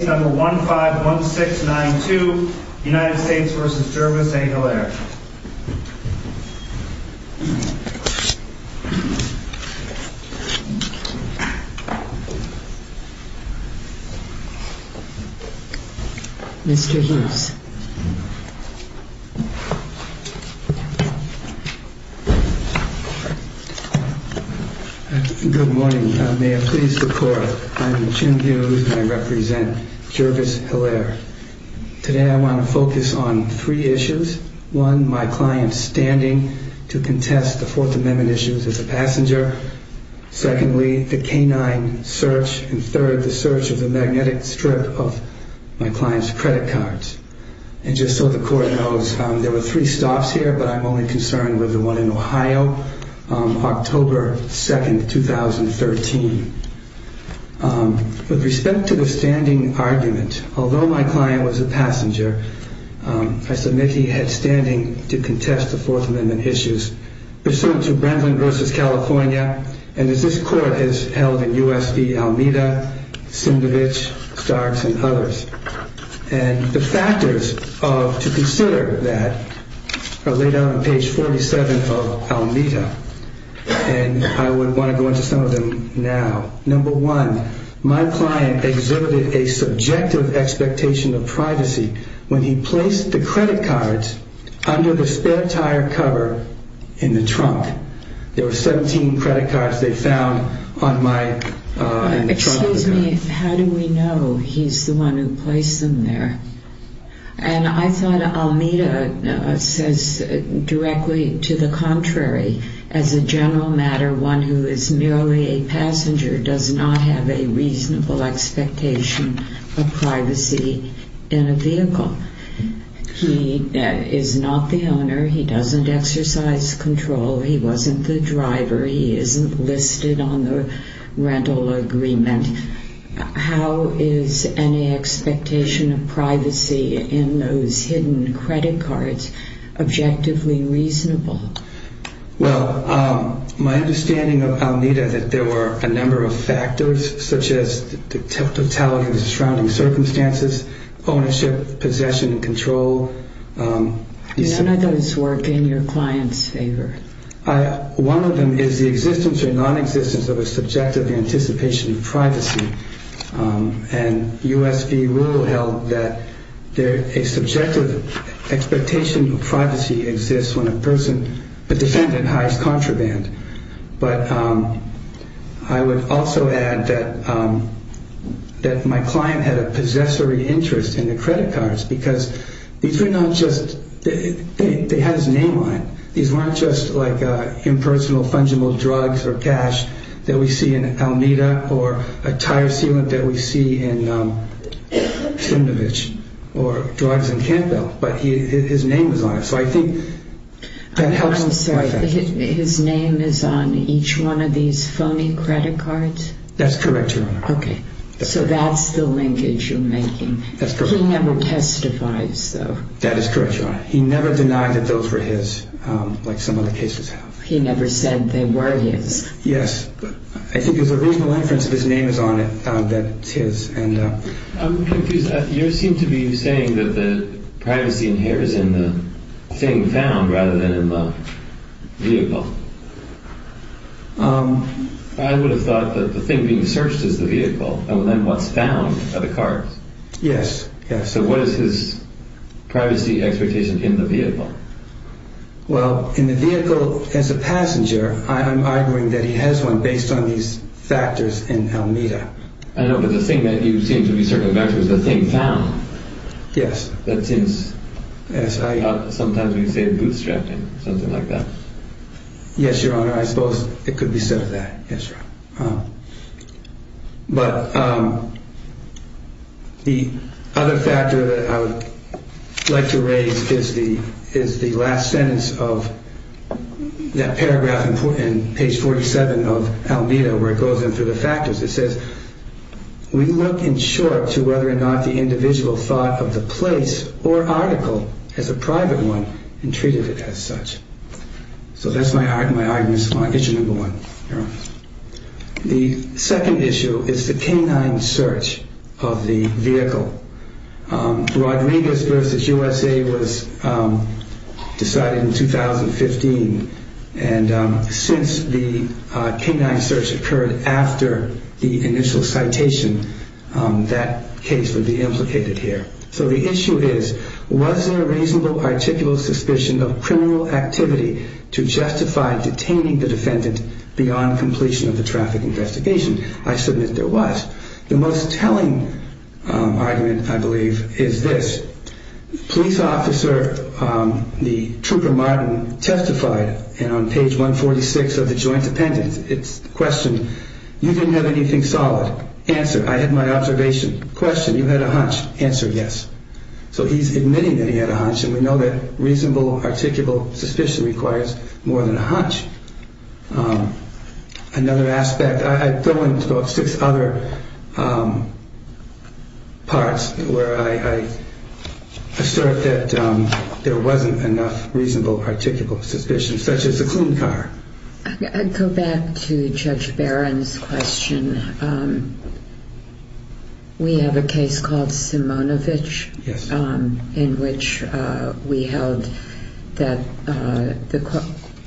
Number 151692, United States v. Jervis, Hillaire. Good morning. May it please the court. I'm Jim Hughes and I represent Jervis, Hillaire. Today I want to focus on three issues. One, my client standing to contest the Fourth Amendment issues as a passenger. Secondly, the canine search and third, the search of the magnetic strip of my client's credit cards. And just so the court knows, there were three stops here, but I'm only concerned with the one in Ohio, October 2nd, 2013. With respect to the standing argument, although my client was a passenger, I submit he had standing to contest the Fourth Amendment issues. Pursuant to Bramlin v. California, and as this court has held in U.S. v. Almeida, Sindovich, Starks, and others, and the factors to consider that are laid out on page 47 of Almeida, and I would want to go into some of them now. Number one, my client exhibited a subjective expectation of privacy when he placed the credit cards they found on my... Excuse me, how do we know he's the one who placed them there? And I thought Almeida says directly to the contrary. As a general matter, one who is merely a passenger does not have a reasonable expectation of privacy in a vehicle. He is not the owner, he doesn't exercise control, he wasn't the driver, he isn't listed on the rental agreement. How is any expectation of privacy in those hidden credit cards objectively reasonable? Well, my understanding of Almeida is that there were a number of factors, such as the totality of the surrounding circumstances, ownership, possession, and control. Do any of those work in your client's favor? One of them is the existence or non-existence of a subjective anticipation of privacy, and U.S. v. Rule held that a subjective expectation of privacy exists when a person, the defendant has contraband. But I would also add that my client had a possessory interest in the case. They had his name on it. These weren't just impersonal, fungible drugs or cash that we see in Almeida, or a tire sealant that we see in Simnovich, or drugs in Campbell. But his name was on it. I'm sorry, his name is on each one of these phony credit cards? That's correct, Your Honor. Okay. So that's the linkage you're making. That's correct. He never testifies, though. That is correct, Your Honor. He never denied that those were his, like some other cases have. He never said they were his. Yes. I think there's a reasonable inference that his name is on it, that it's his. I'm confused. You seem to be saying that the privacy inheres in the thing found rather than in the vehicle. I would have thought that the thing being searched is the vehicle, and then what's found are the cards. Yes. So what is his privacy expectation in the vehicle? Well, in the vehicle, as a passenger, I'm arguing that he has one based on these factors in Almeida. I know, but the thing that you seem to be circumventing is the thing found. Yes. That seems, sometimes we say bootstrapping, something like that. Yes, Your Honor. I suppose it could be said of that. Yes, Your Honor. But the other factor that I would like to raise is the last sentence of that paragraph in page 47 of Almeida where it goes into the factors. It says, we look in short to whether or not the individual thought of the place or article as a private one and treated it as such. So that's my argument, my issue number one, Your Honor. The second issue is the canine search of the vehicle. Rodriguez v. USA was decided in 2015, and since the canine search occurred after the initial citation, that case would be implicated here. So the issue is, was there a reasonable articulal suspicion of criminal activity to justify detaining the defendant beyond completion of the traffic investigation? I submit there was. The most telling argument, I believe, is this. Police officer Trooper Martin testified on page 146 of the joint appendix. It's the question, you didn't have anything solid. Answer, I had my observation. Question, you had a hunch. Answer, yes. So he's admitting that he had a hunch, and we know that reasonable articulal suspicion requires more than a hunch. Another aspect, I throw in about six other parts where I assert that there wasn't enough reasonable articulal suspicion, such as the clean car. I'd go back to Judge Barron's question. We have a case called Simonovitch in which we held that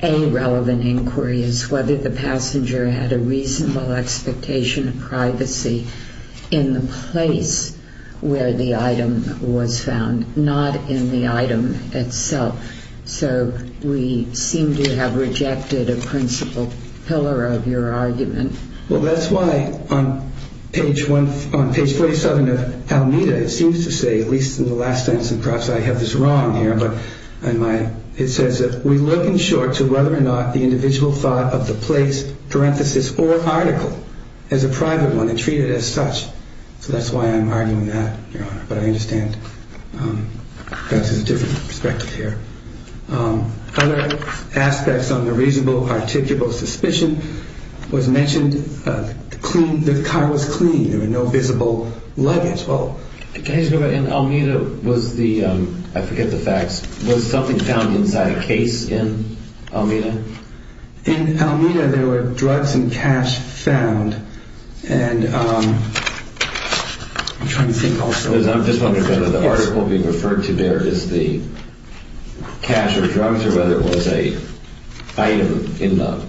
a relevant inquiry is whether the passenger had a reasonable expectation of privacy in the place where the item was found, not in the item itself. So we seem to have rejected a principal pillar of your argument. Well, that's why on page 47 of Almeda, it seems to say, at least in the last sentence, and perhaps I have this wrong here, but it says that we look in short to whether or not the individual thought of the place, parenthesis, or article as a private one and treat it as such. So that's why I'm arguing that, Your Honor, but I understand perhaps there's a different perspective here. Other aspects on the reasonable articulal suspicion was mentioned. The car was clean. There were no visible luggage. Well, can I just go back? In Almeda was the, I forget the facts, was something found inside a case in Almeda? In Almeda, there were drugs and cash found. And I'm trying to think also. I'm just wondering whether the article being referred to there is the cash or drugs or whether it was a item in the,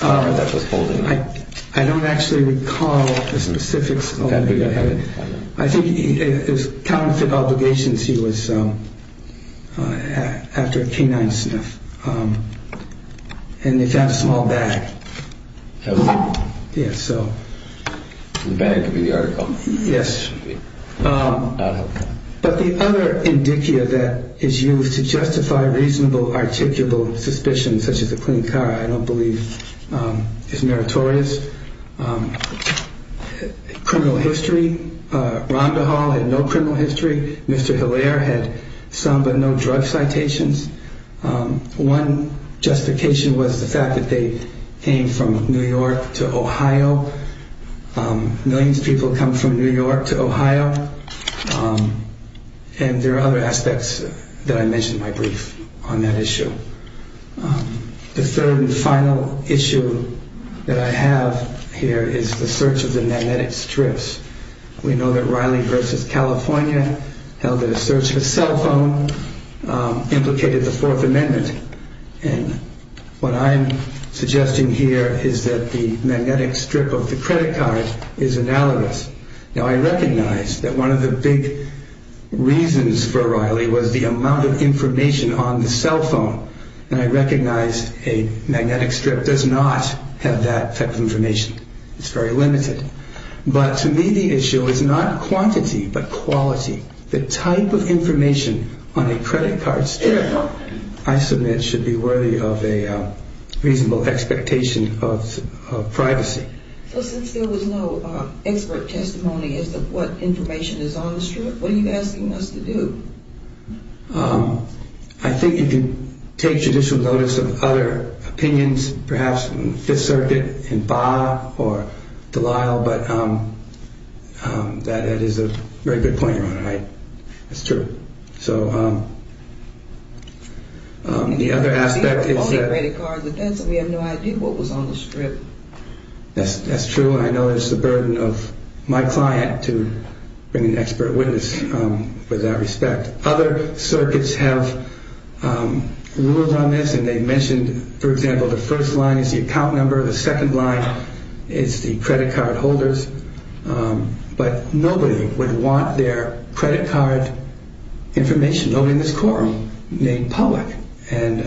that was holding. I don't actually recall the specifics. I think it was counterfeit obligations. Since he was after a canine sniff and they found a small bag. Yes. So the bag could be the article. Yes. But the other indicia that is used to justify reasonable articulable suspicions, such as the clean car, I don't believe is meritorious. Criminal history. Ronda Hall had no criminal history. Mr. Hilaire had some but no drug citations. One justification was the fact that they came from New York to Ohio. Millions of people come from New York to Ohio. And there are other aspects that I mentioned in my brief on that issue. The third and final issue that I have here is the search of the magnetic strips. We know that Riley versus California held a search for cell phone implicated the Fourth Amendment. And what I'm suggesting here is that the magnetic strip of the credit card is analogous. Now I recognize that one of the big reasons for Riley was the amount of information on the cell phone. And I recognize a magnetic strip does not have that type of information. It's very limited. But to me the issue is not quantity but quality. The type of information on a credit card strip I submit should be worthy of a reasonable expectation of privacy. So since there was no expert testimony as to what information is on the strip, what are you asking us to do? I think you can take judicial notice of other opinions, perhaps in the Fifth Circuit in Baugh or Delisle. But that is a very good point, Ronda. That's true. So the other aspect is that we have no idea what was on the strip. That's true. And I know it's the burden of my client to bring an expert witness with that respect. Other circuits have ruled on this and they mentioned, for example, the first line is the account number. The second line is the credit card holders. But nobody would want their credit card information, nobody in this courtroom, made public. And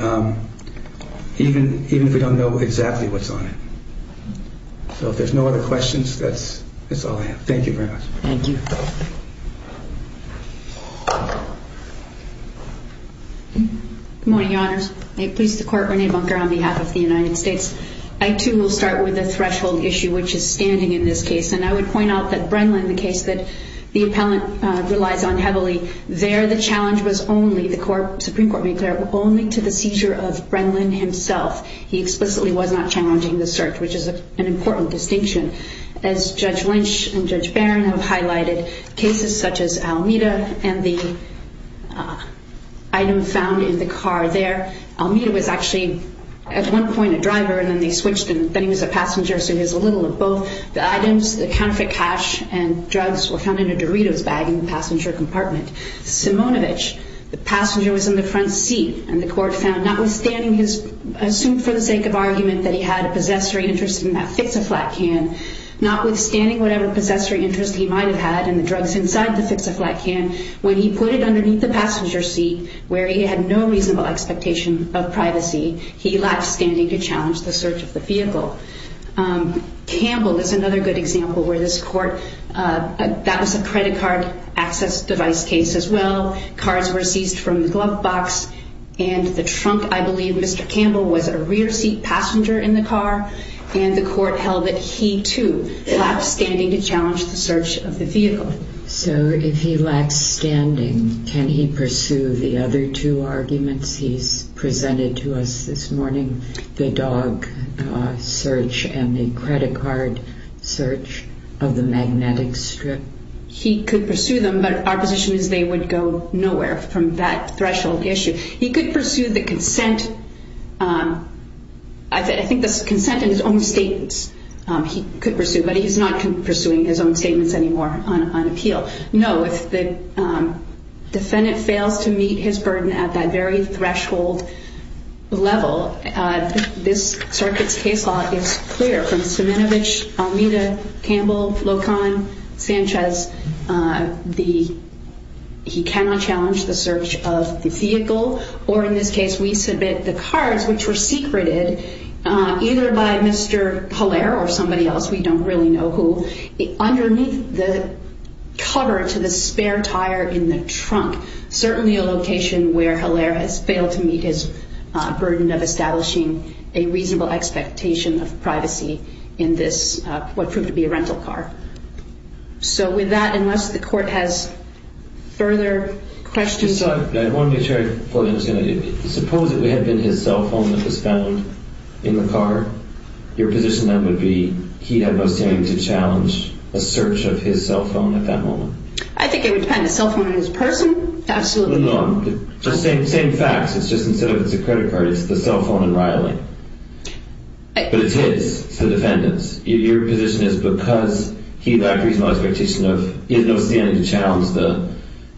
even if we don't know exactly what's on it. So if there's no other questions, that's all I have. Thank you very much. Thank you. Good morning, Your Honors. I please the Court, Renee Bunker, on behalf of the United States. I, too, will start with a threshold issue, which is standing in this case. And I would point out that Brennan, the case that the appellant relies on heavily, there the challenge was only, the Supreme Court made clear, only to the seizure of Brennan himself. He explicitly was not challenging the search, which is an important distinction. As Judge Lynch and Judge Barron have highlighted, cases such as Almeda and the item found in the car there, Almeda was actually, at one point, a driver, and then they switched, and then he was a passenger, so he was a little of both. The items, the counterfeit cash and drugs, were found in a Doritos bag in the passenger compartment. Simonovic, the passenger was in the front seat, and the Court found, notwithstanding his, assumed for the sake of argument that he had a possessory interest in that fix-a-flat can, notwithstanding whatever possessory interest he might have had in the drugs inside the fix-a-flat can, when he put it underneath the passenger seat, where he had no reasonable expectation of privacy, he, notwithstanding to challenge the search of the vehicle. Campbell is another good example where this Court, that was a credit card access device case as well. Cards were seized from the glove box, and the trunk, I believe, Mr. Campbell, was a rear seat passenger in the car, and the Court held that he, too, notwithstanding to challenge the search of the vehicle. So, if he lacks standing, can he pursue the other two arguments he's presented to us this morning, the dog search and the credit card search of the magnetic strip? He could pursue them, but our position is they would go nowhere from that threshold issue. He could pursue the consent, I think the consent in his own statements, he could pursue, but he's not pursuing his own statements anymore on appeal. No, if the defendant fails to meet his burden at that very threshold level, this circuit's case law is clear from Siminovich, Almeida, Campbell, Locon, Sanchez. He cannot challenge the search of the vehicle, or in this case, we submit the cards, which were secreted either by Mr. Haller or somebody else, we don't really know who, underneath the cover to the spare tire in the trunk, certainly a location where Haller has failed to meet his burden of establishing a reasonable expectation of privacy in this, what proved to be a rental car. So, with that, unless the Court has further questions. I just thought, I wanted to make sure I fully understand, suppose it had been his cell phone that was found in the car, your position then would be he had no standing to challenge a search of his cell phone at that moment? I think it would depend on the cell phone and his person, absolutely. No, same facts, it's just instead of it's a credit card, it's the cell phone and Riley. But it's his, it's the defendant's. Your position is because he lacked reasonable expectation of, he has no standing to challenge the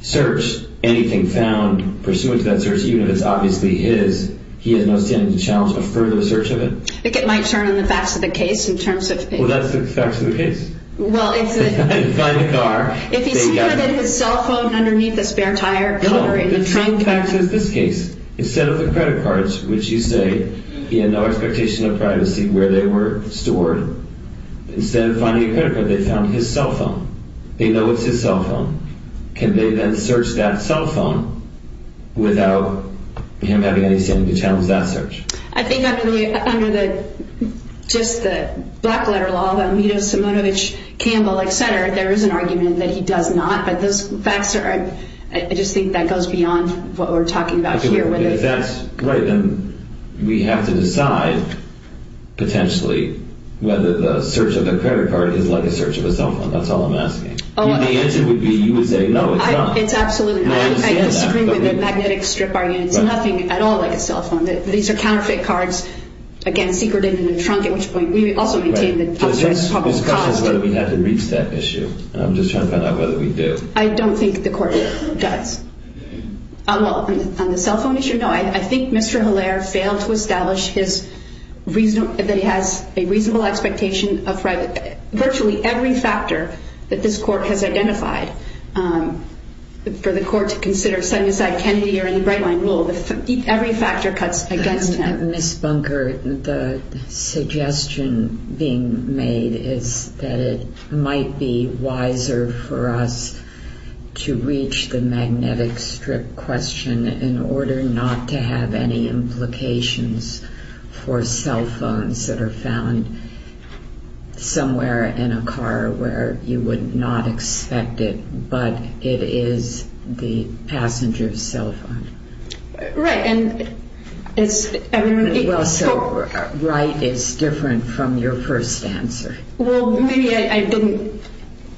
search, anything found pursuant to that search, even if it's obviously his, he has no standing to challenge a further search of it? I think it might turn on the facts of the case in terms of... Well, that's the facts of the case. Well, it's the... If you find the car... If he somehow did his cell phone underneath the spare tire cover in the trunk... No, the same facts as this case. Instead of the credit cards, which you say he had no expectation of privacy where they were stored, instead of finding a credit card, they found his cell phone. They know it's his cell phone. Can they then search that cell phone without him having any standing to challenge that search? I think under the, just the black letter law, the Amito, Simonovic, Campbell, et cetera, there is an argument that he does not, but those facts are, I just think that goes beyond what we're talking about here. whether the search of the credit card is like a search of a cell phone. That's all I'm asking. The answer would be, you would say, no, it's not. It's absolutely not. I disagree with the magnetic strip argument. It's nothing at all like a cell phone. These are counterfeit cards, again, secreted in the trunk, at which point we would also maintain that it's public property. This question is whether we have to reach that issue. I'm just trying to find out whether we do. I don't think the court does. Well, on the cell phone issue, no. I think Mr. Hilaire failed to establish that he has a reasonable expectation of private, virtually every factor that this court has identified. For the court to consider setting aside Kennedy or in the Breitling rule, every factor cuts against him. Ms. Bunker, the suggestion being made is that it might be wiser for us to reach the magnetic strip question in order not to have any implications for cell phones that are found somewhere in a car where you would not expect it, but it is the passenger's cell phone. Right. Well, so right is different from your first answer. Well, maybe I didn't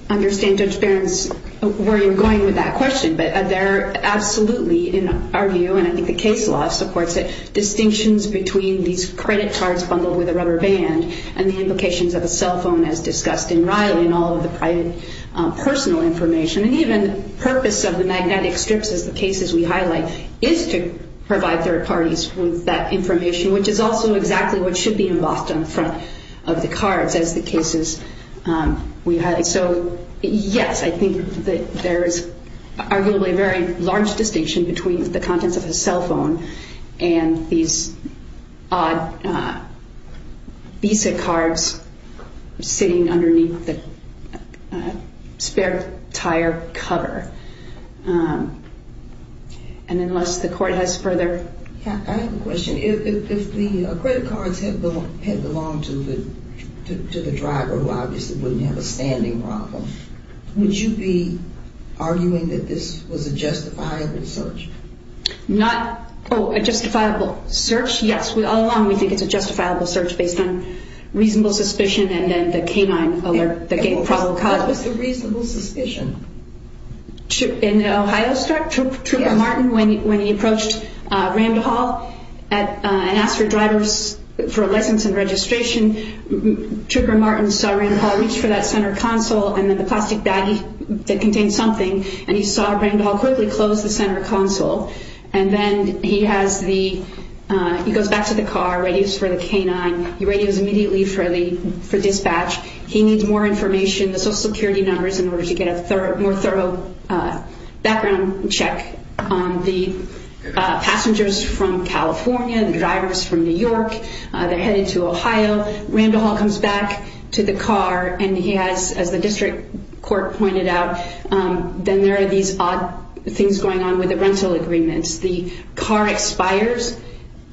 understand, Judge Behrens, where you're going with that question, but there are absolutely, in our view, and I think the case law supports it, distinctions between these credit cards bundled with a rubber band and the implications of a cell phone as discussed in Riley and all of the private personal information, and even the purpose of the magnetic strips as the cases we highlight is to provide third parties with that information, which is also exactly what should be embossed on the front of the cards as the cases we highlight. So, yes, I think that there is arguably a very large distinction between the contents of a cell phone and these odd Visa cards sitting underneath the spare tire cover. And unless the court has further... I have a question. If the credit cards had belonged to the driver, who obviously wouldn't have a standing problem, would you be arguing that this was a justifiable search? Not a justifiable search? Yes, all along we think it's a justifiable search based on reasonable suspicion and then the canine alert, the gate problem caught. What was the reasonable suspicion? In Ohio, Trooper Martin, when he approached Randall and asked for a license and registration, Trooper Martin saw Randall reach for that center console and then the plastic baggie that contained something and he saw Randall quickly close the center console. And then he goes back to the car, radios for the canine, he radios immediately for dispatch, he needs more information, the social security numbers in order to get a more thorough background check on the passengers from California, the drivers from New York, they're headed to Ohio, Randall comes back to the car and he has, as the district court pointed out, then there are these odd things going on with the rental agreements. The car expires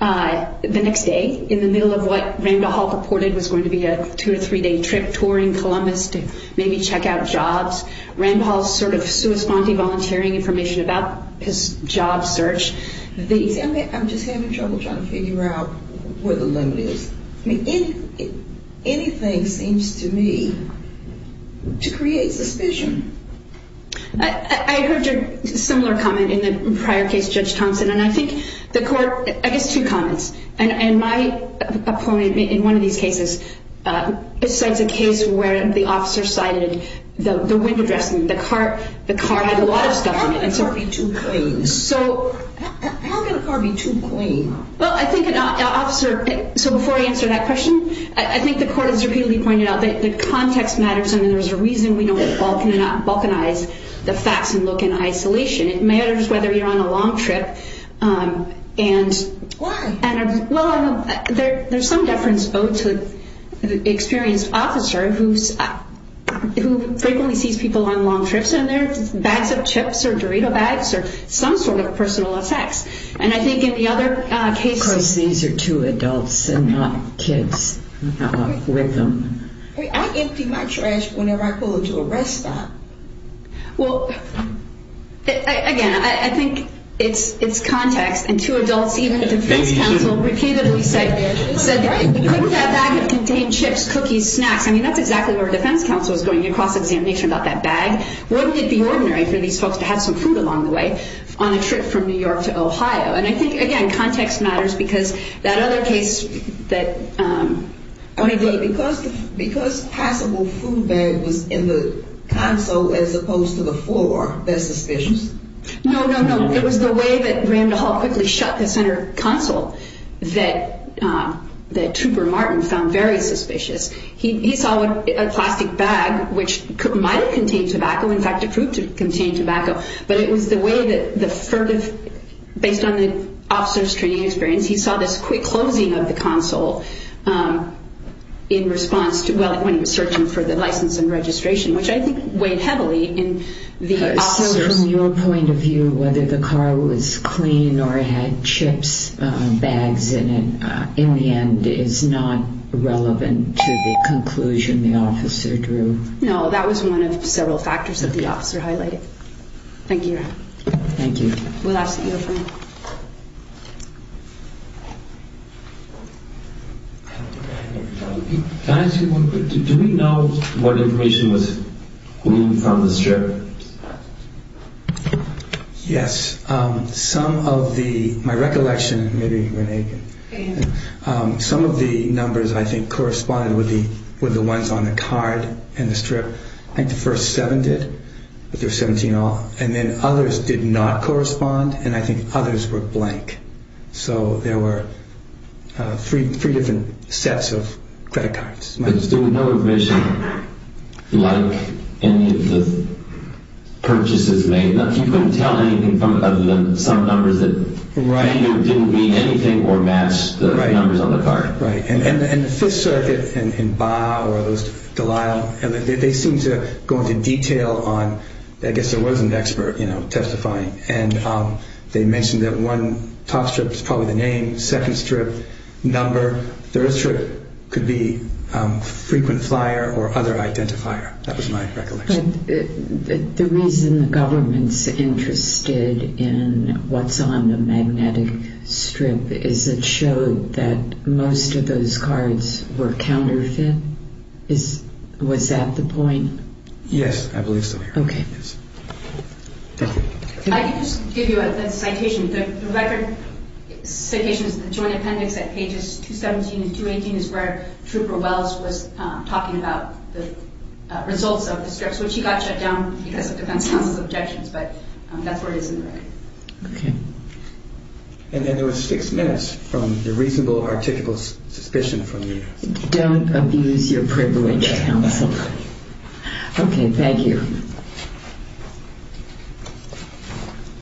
the next day in the middle of what Randall reported was going to be a two or three day trip touring Columbus to maybe check out jobs. Randall's sort of corresponding volunteering information about his job search. I'm just having trouble trying to figure out where the limit is. Anything seems to me to create suspicion. I heard a similar comment in the prior case, Judge Thompson, and I think the court, I guess two comments, and my opponent in one of these cases, besides a case where the officer cited the window dressing, the car had a lot of stuff in it. How can a car be too clean? Well, I think an officer, so before I answer that question, I think the court has repeatedly pointed out that the context matters and there's a reason we don't balkanize the facts and look in isolation. It matters whether you're on a long trip. Why? Well, there's some deference owed to the experienced officer who frequently sees people on long trips and there are bags of chips or Doritos bags or some sort of personal effects. Of course, these are two adults and not kids with them. I empty my trash whenever I go to a rest stop. Well, again, I think it's context, and two adults, even a defense counsel, repeatedly said couldn't that bag have contained chips, cookies, snacks? I mean, that's exactly where a defense counsel was going in a cross-examination about that bag. Wouldn't it be ordinary for these folks to have some food along the way on a trip from New York to Ohio? And I think, again, context matters because that other case that… Because the passable food bag was in the console as opposed to the floor, that's suspicious. No, no, no. It was the way that Randall Hall quickly shut the center console that Trooper Martin found very suspicious. He saw a plastic bag which might have contained tobacco, in fact, it proved to contain tobacco, but it was the way that the furtive… Based on the officer's training experience, he saw this quick closing of the console in response to… Well, when he was searching for the license and registration, which I think weighed heavily in the officer's… So from your point of view, whether the car was clean or had chips bags in it, in the end, is not relevant to the conclusion the officer drew? No, that was one of several factors that the officer highlighted. Thank you, Your Honor. Thank you. We'll ask that you refrain. Can I ask you one quick thing? Do we know what information was removed from the strip? Yes. Some of the… My recollection, maybe Renee can… Some of the numbers, I think, corresponded with the ones on the card and the strip. I think the first seven did, but there were 17 in all. And then others did not correspond, and I think others were blank. So there were three different sets of credit cards. But there was no information like any of the purchases made? You couldn't tell anything other than some numbers that… Right. Didn't mean anything or match the numbers on the card? Right. And the Fifth Circuit and Baugh or Delisle, they seem to go into detail on… They mentioned that one top strip is probably the name, second strip, number, third strip could be frequent flyer or other identifier. That was my recollection. But the reason the government's interested in what's on the magnetic strip is it showed that most of those cards were counterfeit. Was that the point? Okay. Yes. Thank you. I can just give you a citation. The record citation is the Joint Appendix at pages 217 and 218 is where Trooper Wells was talking about the results of the strips, which he got shut down because of defense counsel's objections, but that's where it is in the record. Okay. And then there was six minutes from the reasonable, articulable suspicion from the… Don't abuse your privilege, counsel. Okay, thank you. Thank you.